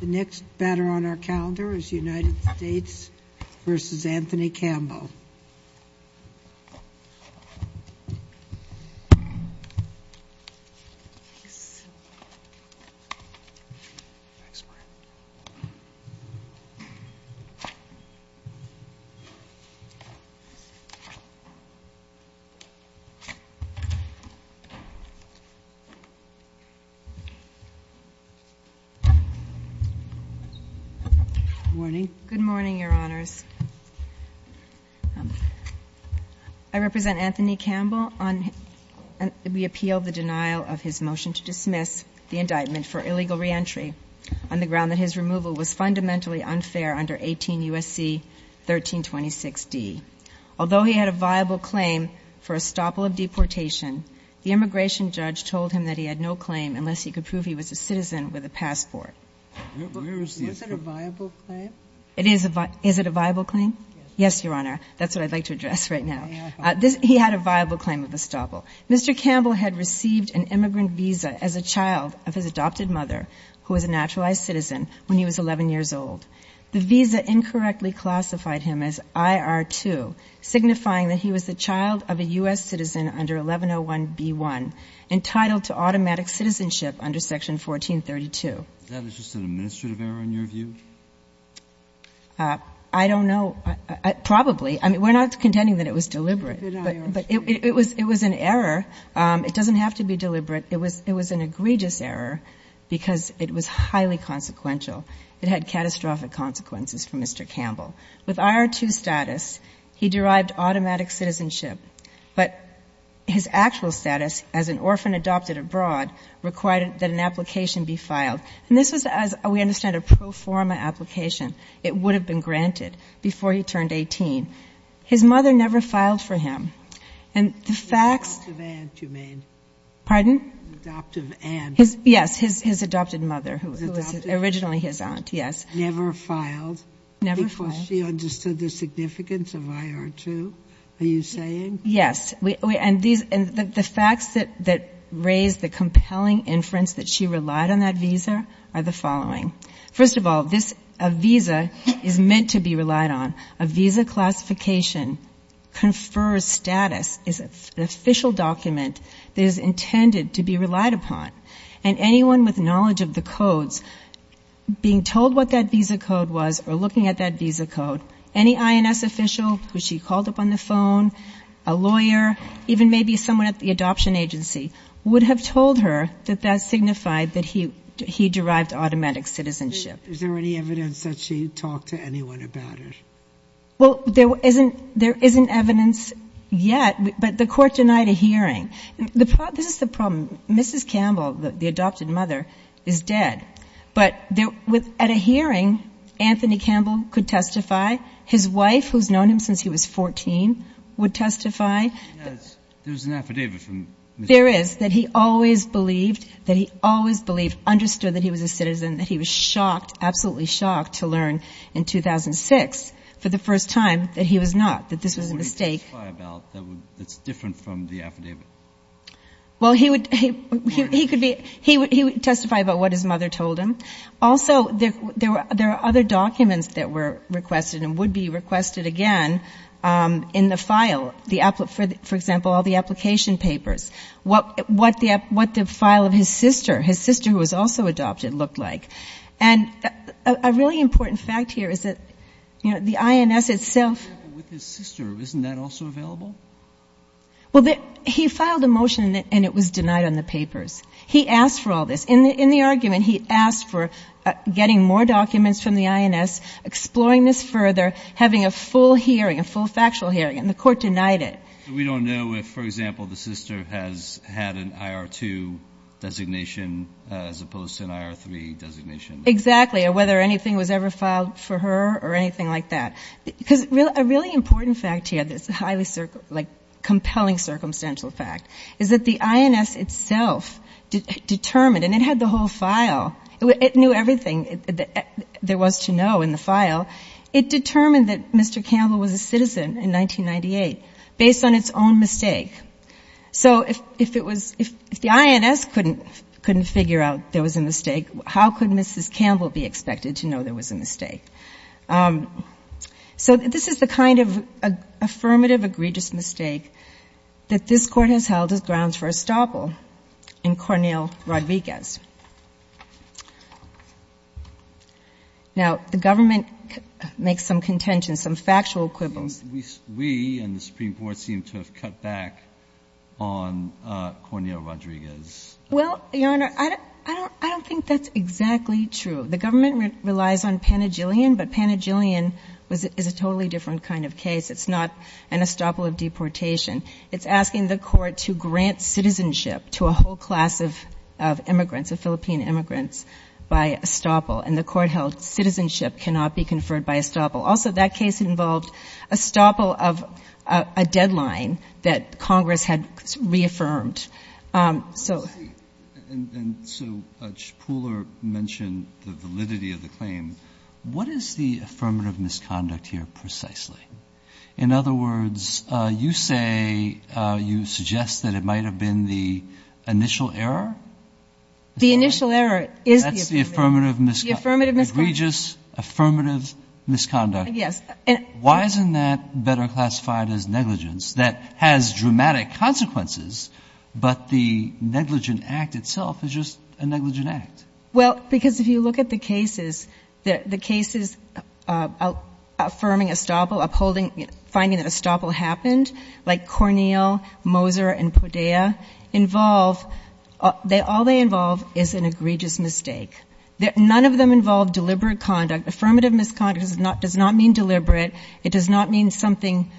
The next banner on our calendar is United States v. Anthony Campbell. Good morning. Good morning, Your Honors. I represent Anthony Campbell. We appeal the denial of his motion to dismiss the indictment for illegal reentry on the ground that his removal was fundamentally unfair under 18 U.S.C. 1326d. Although he had a viable claim for a stopple of deportation, the immigration judge told him that he had no claim unless he could prove he was a citizen with a passport. Was it a viable claim? Is it a viable claim? Yes, Your Honor. That's what I'd like to address right now. He had a viable claim of a stopple. Mr. Campbell had received an immigrant visa as a child of his adopted mother who was a naturalized citizen when he was 11 years old. The visa incorrectly classified him as IR2, signifying that he was the child of a U.S. citizen under 1101b1, entitled to automatic citizenship under Section 1432. Is that just an administrative error in your view? I don't know. Probably. I mean, we're not contending that it was deliberate. But it was an error. It doesn't have to be deliberate. It was an egregious error because it was highly consequential. It had catastrophic consequences for Mr. Campbell. With IR2 status, he derived automatic citizenship, but his actual status as an orphan adopted abroad required that an application be filed. And this was, as we understand, a pro forma application. It would have been granted before he turned 18. His mother never filed for him. And the facts — Adoptive aunt, you mean? Pardon? Adoptive aunt. Yes, his adopted mother who was originally his aunt, yes. Never filed? Never filed. Because she understood the significance of IR2? Are you saying? Yes. And the facts that raise the compelling inference that she relied on that visa are the following. First of all, this visa is meant to be relied on. A visa classification confer status is an official document that is intended to be relied upon. And anyone with knowledge of the codes, being told what that visa code was or looking at that visa code, any INS official who she called up on the phone, a lawyer, even maybe someone at the adoption agency, would have told her that that signified that he derived automatic citizenship. Is there any evidence that she talked to anyone about it? Well, there isn't evidence yet, but the court denied a hearing. This is the problem. Mrs. Campbell, the adopted mother, is dead. But at a hearing, Anthony Campbell could testify. His wife, who's known him since he was 14, would testify. There's an affidavit from Mr. Campbell. There is, that he always believed, that he always believed, understood that he was a citizen, that he was shocked, absolutely shocked, to learn in 2006 for the first time that he was not, that this was a mistake. What would he testify about that's different from the affidavit? Well, he would testify about what his mother told him. Also, there are other documents that were requested and would be requested again in the file. For example, all the application papers. What the file of his sister, his sister who was also adopted, looked like. And a really important fact here is that, you know, the INS itself — With his sister, isn't that also available? Well, he filed a motion and it was denied on the papers. He asked for all this. In the argument, he asked for getting more documents from the INS, exploring this further, having a full hearing, a full factual hearing, and the court denied it. We don't know if, for example, the sister has had an IR-2 designation as opposed to an IR-3 designation. Exactly, or whether anything was ever filed for her or anything like that. Because a really important fact here that's a highly, like, compelling circumstantial fact is that the INS itself determined — and it had the whole file. It knew everything there was to know in the file. It determined that Mr. Campbell was a citizen in 1998 based on its own mistake. So if it was — if the INS couldn't figure out there was a mistake, how could Mrs. Campbell be expected to know there was a mistake? So this is the kind of affirmative, egregious mistake that this Court has held as grounds for estoppel in Cornell-Rodriguez. Now, the government makes some contentions, some factual quibbles. We and the Supreme Court seem to have cut back on Cornell-Rodriguez. Well, Your Honor, I don't think that's exactly true. The government relies on Panagillion, but Panagillion is a totally different kind of case. It's not an estoppel of deportation. It's asking the Court to grant citizenship to a whole class of immigrants, of Philippine immigrants, by estoppel. And the Court held citizenship cannot be conferred by estoppel. Also, that case involved estoppel of a deadline that Congress had reaffirmed. And so Pooler mentioned the validity of the claim. What is the affirmative misconduct here precisely? In other words, you say — you suggest that it might have been the initial error? The initial error is the affirmative. That's the affirmative misconduct. The affirmative misconduct. Egregious, affirmative misconduct. Yes. Why isn't that better classified as negligence? That has dramatic consequences, but the negligent act itself is just a negligent act. Well, because if you look at the cases, the cases affirming estoppel, upholding — finding that estoppel happened, like Cornell, Moser, and Podea, involve — all they involve is an egregious mistake. None of them involve deliberate conduct. Affirmative misconduct does not mean deliberate. It does not mean something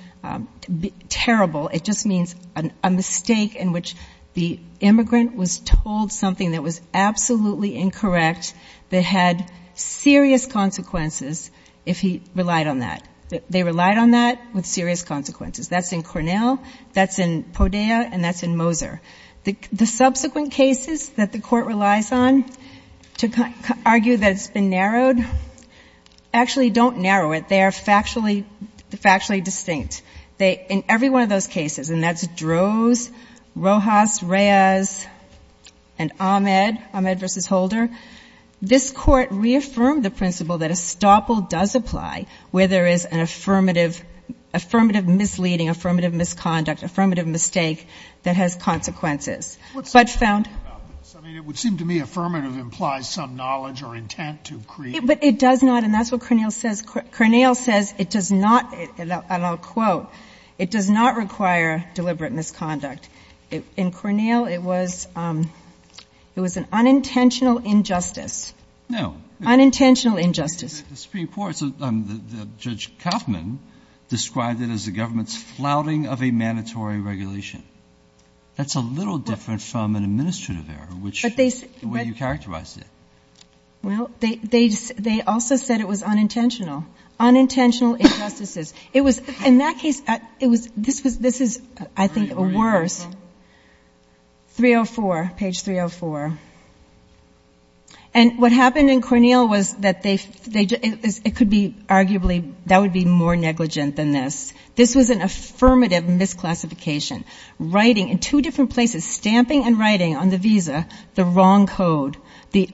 terrible. It just means a mistake in which the immigrant was told something that was absolutely incorrect that had serious consequences if he relied on that. They relied on that with serious consequences. That's in Cornell. That's in Podea. And that's in Moser. The subsequent cases that the Court relies on to argue that it's been narrowed actually don't narrow it. They are factually distinct. In every one of those cases, and that's Droz, Rojas, Reyes, and Ahmed, Ahmed v. Holder, this Court reaffirmed the principle that estoppel does apply where there is an affirmative misleading, affirmative misconduct, affirmative mistake that has consequences. But found — It would seem to me affirmative implies some knowledge or intent to create — But it does not. And that's what Cornell says. Cornell says it does not — and I'll quote — it does not require deliberate misconduct. In Cornell, it was an unintentional injustice. No. Unintentional injustice. The Supreme Court's — Judge Kaufman described it as the government's flouting of a mandatory regulation. That's a little different from an administrative error, which — But they — The way you characterized it. Well, they also said it was unintentional. Unintentional injustices. It was — in that case, it was — this was — this is, I think, a worse — 304. 304. Page 304. And what happened in Cornell was that they — it could be arguably — that would be more negligent than this. This was an affirmative misclassification. Writing in two different places, stamping and writing on the visa, the wrong code. The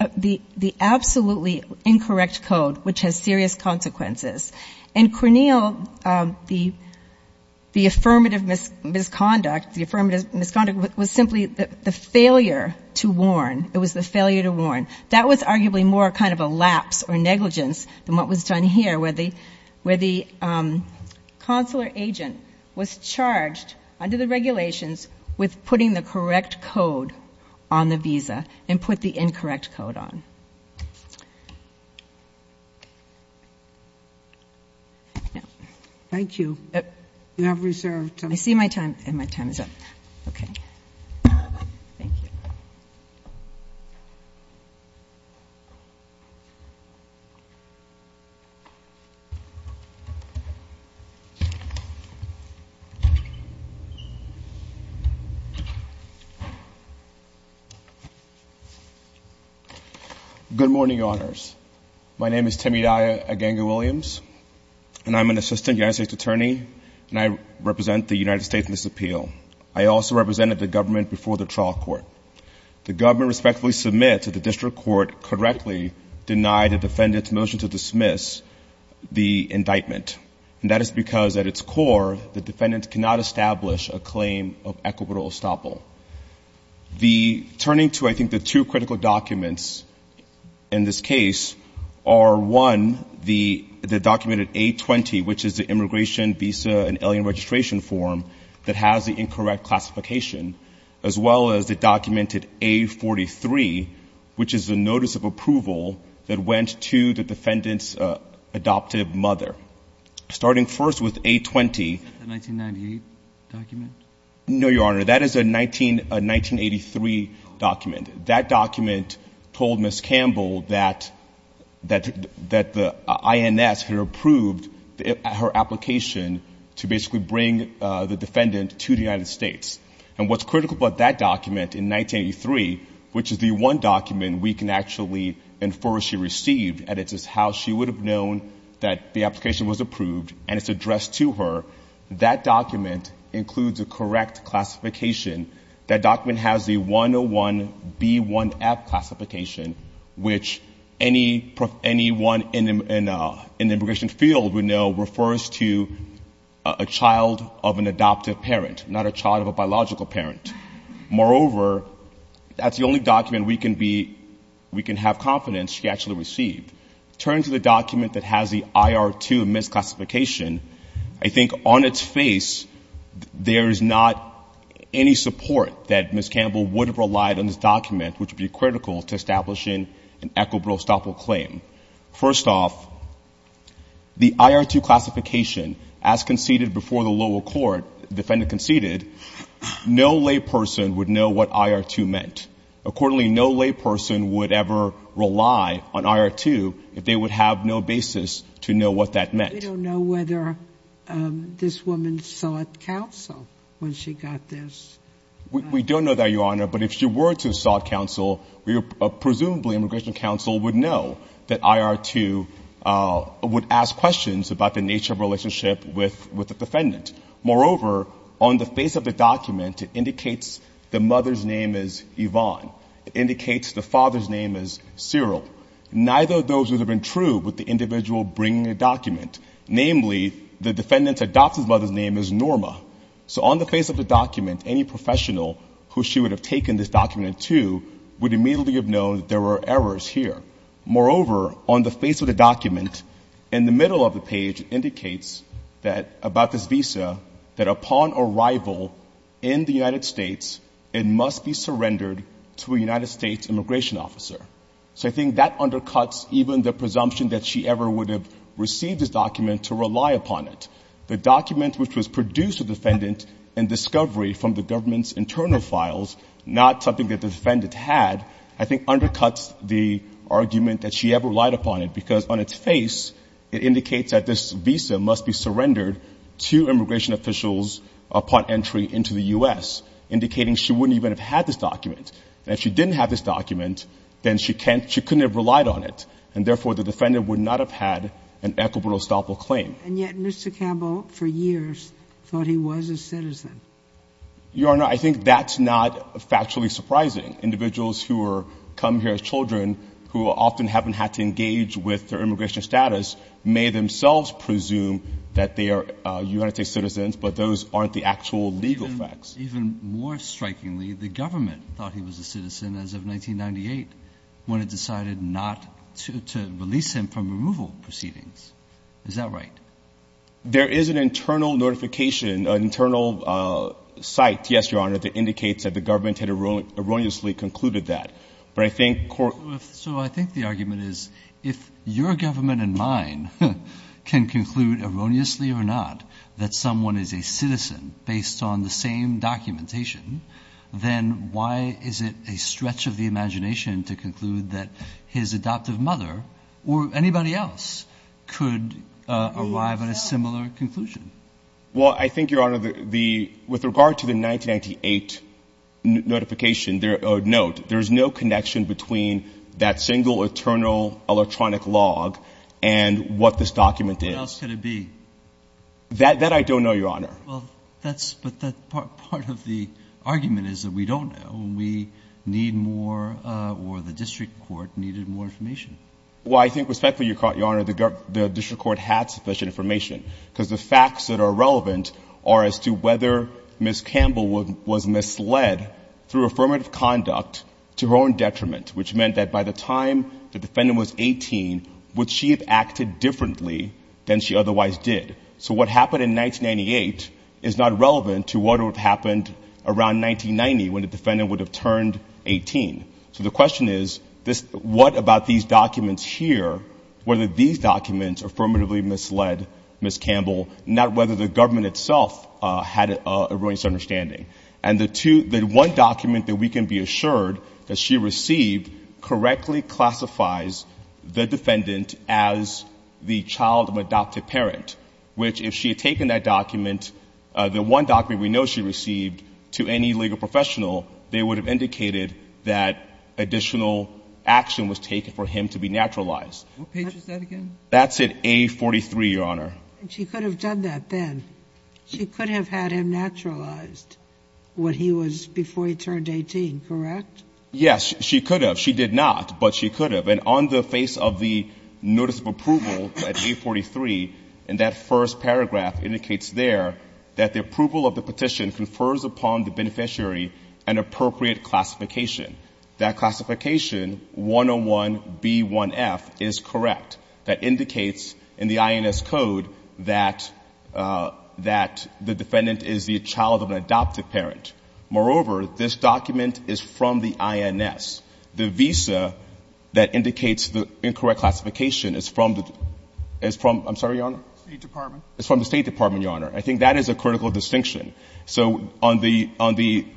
absolutely incorrect code, which has serious consequences. And Cornell, the affirmative misconduct, the affirmative misconduct was simply the failure to warn. It was the failure to warn. That was arguably more kind of a lapse or negligence than what was done here, where the consular agent was charged, under the regulations, with putting the correct code on the visa and put the incorrect code on. Thank you. You have reserved time. I see my time. And my time is up. Okay. Thank you. Good morning, Honors. My name is Temidai Agenga-Williams, and I'm an assistant United States attorney, and I represent the United States in this appeal. I also represented the government before the trial court. The government respectfully submits that the district court correctly denied the defendant's motion to dismiss the indictment. And that is because, at its core, the defendant cannot establish a claim of equitable estoppel. Turning to, I think, the two critical documents in this case are, one, the documented A-20, which is the immigration, visa, and alien registration form that has the incorrect classification, as well as the documented A-43, which is the notice of approval that went to the defendant's adoptive mother. Starting first with A-20. Is that the 1998 document? No, Your Honor, that is a 1983 document. That document told Ms. Campbell that the INS had approved her application to basically bring the defendant to the United States. And what's critical about that document in 1983, which is the one document we can actually infer she received, and it's just how she would have known that the application was approved, and it's addressed to her, that document includes a correct classification. That document has the 101B1F classification, which any one in the immigration field would know refers to a child of an adoptive parent, not a child of a biological parent. Moreover, that's the only document we can have confidence she actually received. Turning to the document that has the IR-2 misclassification, I think on its face, there is not any support that Ms. Campbell would have relied on this document, which would be critical to establishing an equitable estoppel claim. First off, the IR-2 classification, as conceded before the lower court, the defendant conceded, no layperson would know what IR-2 meant. Accordingly, no layperson would ever rely on IR-2 if they would have no basis to know what that meant. We don't know whether this woman sought counsel when she got this. We don't know that, Your Honor, but if she were to sought counsel, presumably immigration counsel would know that IR-2 would ask questions about the nature of relationship with the defendant. Moreover, on the face of the document, it indicates the mother's name is Yvonne. It indicates the father's name is Cyril. Neither of those would have been true with the individual bringing the document. Namely, the defendant's adoptive mother's name is Norma. So on the face of the document, any professional who she would have taken this document to would immediately have known that there were errors here. Moreover, on the face of the document, in the middle of the page, it indicates that about this visa, that upon arrival in the United States, it must be surrendered to a United States immigration officer. So I think that undercuts even the presumption that she ever would have received this document to rely upon it. The document which was produced to the defendant in discovery from the government's internal files, not something that the defendant had, I think undercuts the argument that she ever relied upon it. Because on its face, it indicates that this visa must be surrendered to immigration officials upon entry into the U.S., indicating she wouldn't even have had this document. And if she didn't have this document, then she couldn't have relied on it. And therefore, the defendant would not have had an equitable estoppel claim. And yet Mr. Campbell, for years, thought he was a citizen. Your Honor, I think that's not factually surprising. Individuals who come here as children, who often haven't had to engage with their immigration status, may themselves presume that they are United States citizens, but those aren't the actual legal facts. Even more strikingly, the government thought he was a citizen as of 1998, when it decided not to release him from removal proceedings. Is that right? There is an internal notification, an internal site, yes, Your Honor, that indicates that the government had erroneously concluded that. But I think court... So I think the argument is, if your government and mine can conclude erroneously or not that someone is a citizen based on the same documentation, then why is it a stretch of the imagination to conclude that his adoptive mother or anybody else could arrive at a similar conclusion? Well, I think, Your Honor, with regard to the 1998 notification or note, there is no connection between that single internal electronic log and what this document is. What else could it be? That I don't know, Your Honor. Well, that's, but that part of the argument is that we don't know. We need more or the district court needed more information. Well, I think respectfully, Your Honor, the district court had sufficient information because the facts that are relevant are as to whether Ms. Campbell was misled through affirmative conduct to her own detriment, which meant that by the time the defendant was 18, would she have acted differently than she otherwise did? So what happened in 1998 is not relevant to what would have happened around 1990 when the defendant would have turned 18. So the question is, what about these documents here, whether these documents affirmatively misled Ms. Campbell, not whether the government itself had an erroneous understanding? And the one document that we can be assured that she received correctly classifies the defendant as the child of an adopted parent, which if she had taken that document, the one document we know she received to any legal professional, they would have indicated that additional action was taken for him to be naturalized. What page is that again? That's at A43, Your Honor. And she could have done that then. She could have had him naturalized when he was before he turned 18, correct? Yes. She could have. She did not, but she could have. And on the face of the notice of approval at A43, and that first paragraph indicates there that the approval of the petition confers upon the beneficiary an appropriate classification. That classification, 101B1F, is correct. That indicates in the INS code that the defendant is the child of an adopted parent. Moreover, this document is from the INS. The visa that indicates the incorrect classification is from the ‑‑ I'm sorry, Your Honor? State Department. It's from the State Department, Your Honor. I think that is a critical distinction. So on the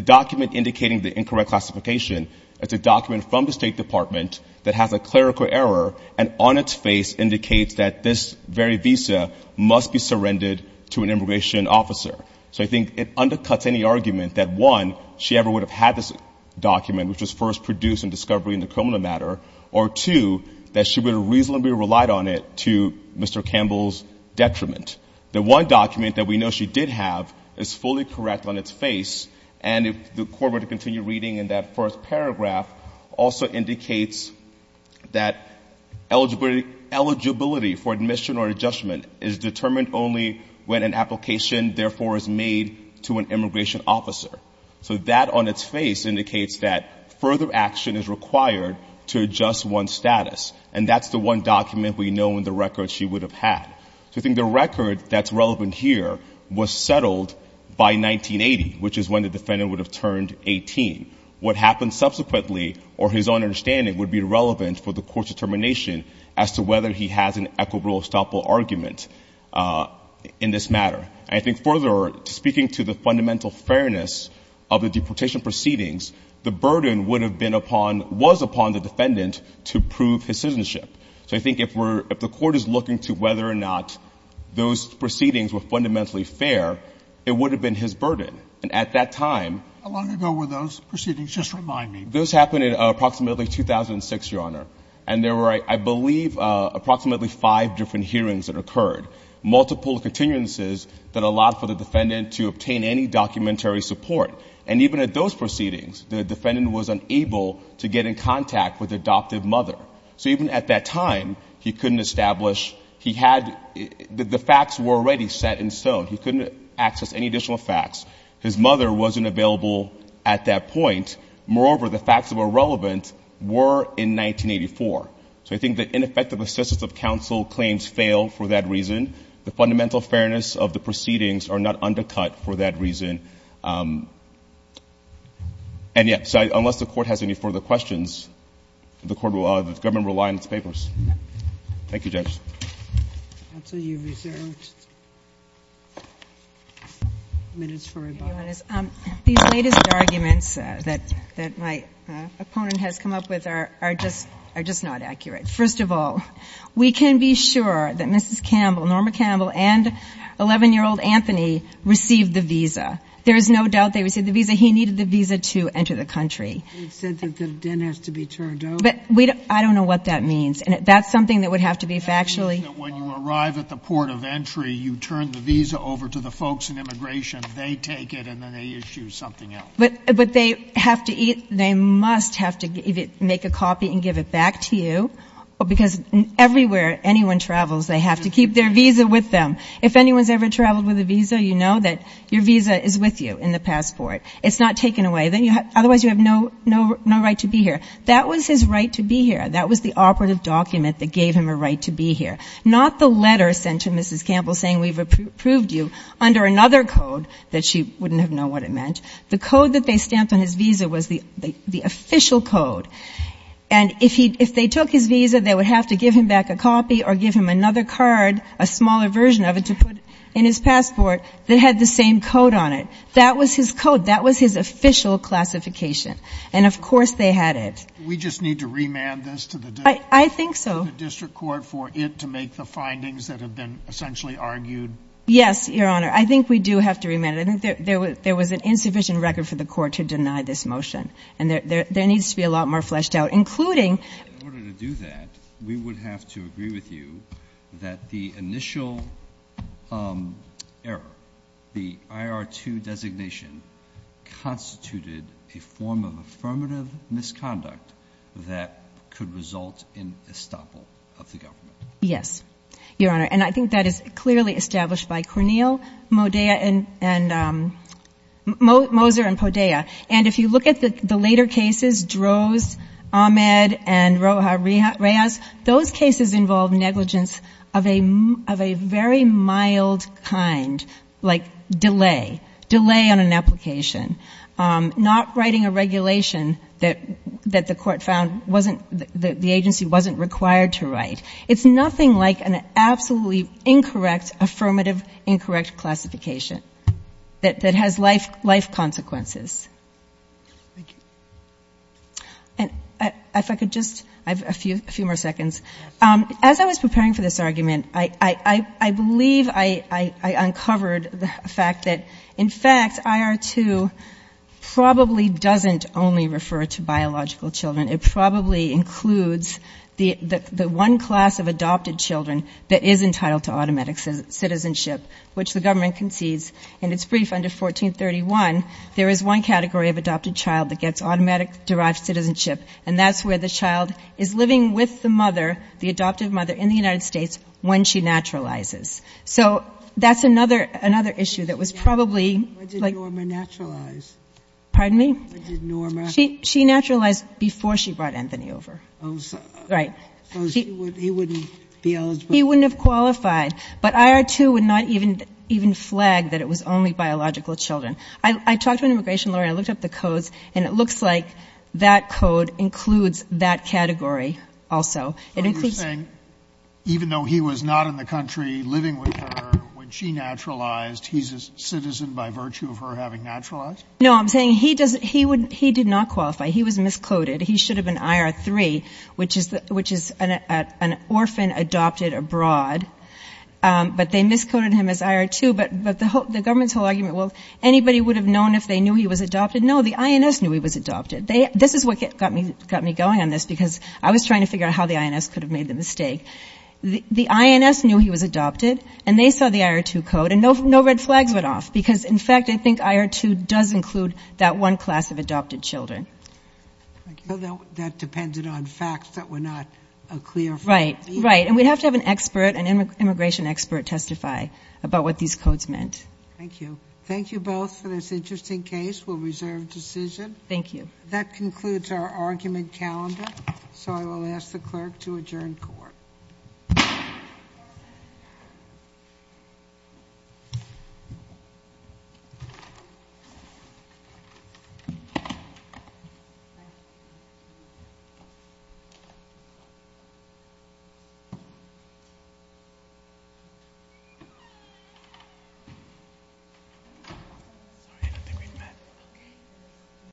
document indicating the incorrect classification, it's a document from the State Department that has a clerical error, and on its face indicates that this very visa must be surrendered to an immigration officer. So I think it undercuts any argument that, one, she ever would have had this document, which was first produced in discovery in the criminal matter, or, two, that she would have reasonably relied on it to Mr. Campbell's detriment. The one document that we know she did have is fully correct on its face, and if the Court were to continue reading in that first paragraph, also indicates that eligibility for admission or adjustment is determined only when an application, therefore, is made to an immigration officer. So that on its face indicates that further action is required to adjust one's status, and that's the one document we know in the record she would have had. So I think the record that's relevant here was settled by 1980, which is when the defendant would have turned 18. What happened subsequently, or his own understanding, would be relevant for the Court's determination as to whether he has an equitable or stoppable argument in this matter. And I think further, speaking to the fundamental fairness of the deportation proceedings, the burden would have been upon – was upon the defendant to prove his citizenship. So I think if we're – if the Court is looking to whether or not those proceedings were fundamentally fair, it would have been his burden. And at that time – How long ago were those proceedings? Just remind me. Those happened at approximately 2006, Your Honor. And there were, I believe, approximately five different hearings that occurred, multiple continuances that allowed for the defendant to obtain any documentary support. And even at those proceedings, the defendant was unable to get in contact with the adoptive mother. So even at that time, he couldn't establish – he had – the facts were already set in stone. He couldn't access any additional facts. His mother wasn't available at that point. Moreover, the facts that were relevant were in 1984. So I think the ineffective assistance of counsel claims fail for that reason. The fundamental fairness of the proceedings are not undercut for that reason. And yet – so unless the Court has any further questions, the Court will – the government will rely on its papers. Thank you, Judge. I'll tell you reserved minutes for rebuttal. These latest arguments that my opponent has come up with are just not accurate. First of all, we can be sure that Mrs. Campbell, Norma Campbell, and 11-year-old Anthony received the visa. There is no doubt they received the visa. He needed the visa to enter the country. He said that the den has to be turned over. I don't know what that means. That's something that would have to be factually – It means that when you arrive at the port of entry, you turn the visa over to the folks in immigration. They take it, and then they issue something else. But they have to – they must have to make a copy and give it back to you. Because everywhere anyone travels, they have to keep their visa with them. If anyone's ever traveled with a visa, you know that your visa is with you in the passport. It's not taken away. Otherwise, you have no right to be here. That was his right to be here. That was the operative document that gave him a right to be here. Not the letter sent to Mrs. Campbell saying we've approved you under another code that she wouldn't have known what it meant. The code that they stamped on his visa was the official code. And if he – if they took his visa, they would have to give him back a copy or give him another card, a smaller version of it, to put in his passport that had the same code on it. That was his code. That was his official classification. And, of course, they had it. We just need to remand this to the district court? I think so. To the district court for it to make the findings that have been essentially argued? Yes, Your Honor. I think we do have to remand it. I think there was an insufficient record for the court to deny this motion. And there needs to be a lot more fleshed out, including – In order to do that, we would have to agree with you that the initial error, the IR2 designation, constituted a form of affirmative misconduct that could result in estoppel of the government. Yes, Your Honor. And I think that is clearly established by Corneille, Moser, and Podea. And if you look at the later cases, Droz, Ahmed, and Rojas, those cases involve negligence of a very mild kind. Like delay. Delay on an application. Not writing a regulation that the court found wasn't – that the agency wasn't required to write. It's nothing like an absolutely incorrect affirmative incorrect classification that has life consequences. Thank you. And if I could just – I have a few more seconds. As I was preparing for this argument, I believe I uncovered the fact that, in fact, IR2 probably doesn't only refer to biological children. It probably includes the one class of adopted children that is entitled to automatic citizenship, which the government concedes. In its brief under 1431, there is one category of adopted child that gets automatic derived citizenship, and that's where the child is living with the mother, the adopted mother in the United States, when she naturalizes. So that's another issue that was probably – When did Norma naturalize? Pardon me? When did Norma – She naturalized before she brought Anthony over. Oh, so – Right. So he wouldn't be eligible? He wouldn't have qualified. But IR2 would not even flag that it was only biological children. I talked to an immigration lawyer. I looked up the codes, and it looks like that code includes that category also. It includes – Are you saying even though he was not in the country living with her when she naturalized, he's a citizen by virtue of her having naturalized? No, I'm saying he doesn't – he did not qualify. He was miscoded. He should have been IR3, which is an orphan adopted abroad. But they miscoded him as IR2. But the government's whole argument, well, anybody would have known if they knew he was adopted. No, the INS knew he was adopted. This is what got me going on this, because I was trying to figure out how the INS could have made the mistake. The INS knew he was adopted, and they saw the IR2 code, and no red flags went off, because, in fact, I think IR2 does include that one class of adopted children. So that depended on facts that were not a clear – Right, right. And we'd have to have an expert, an immigration expert, testify about what these codes meant. Thank you. Thank you both for this interesting case. We'll reserve decision. Thank you. That concludes our argument calendar, so I will ask the clerk to adjourn court. Court is adjourned.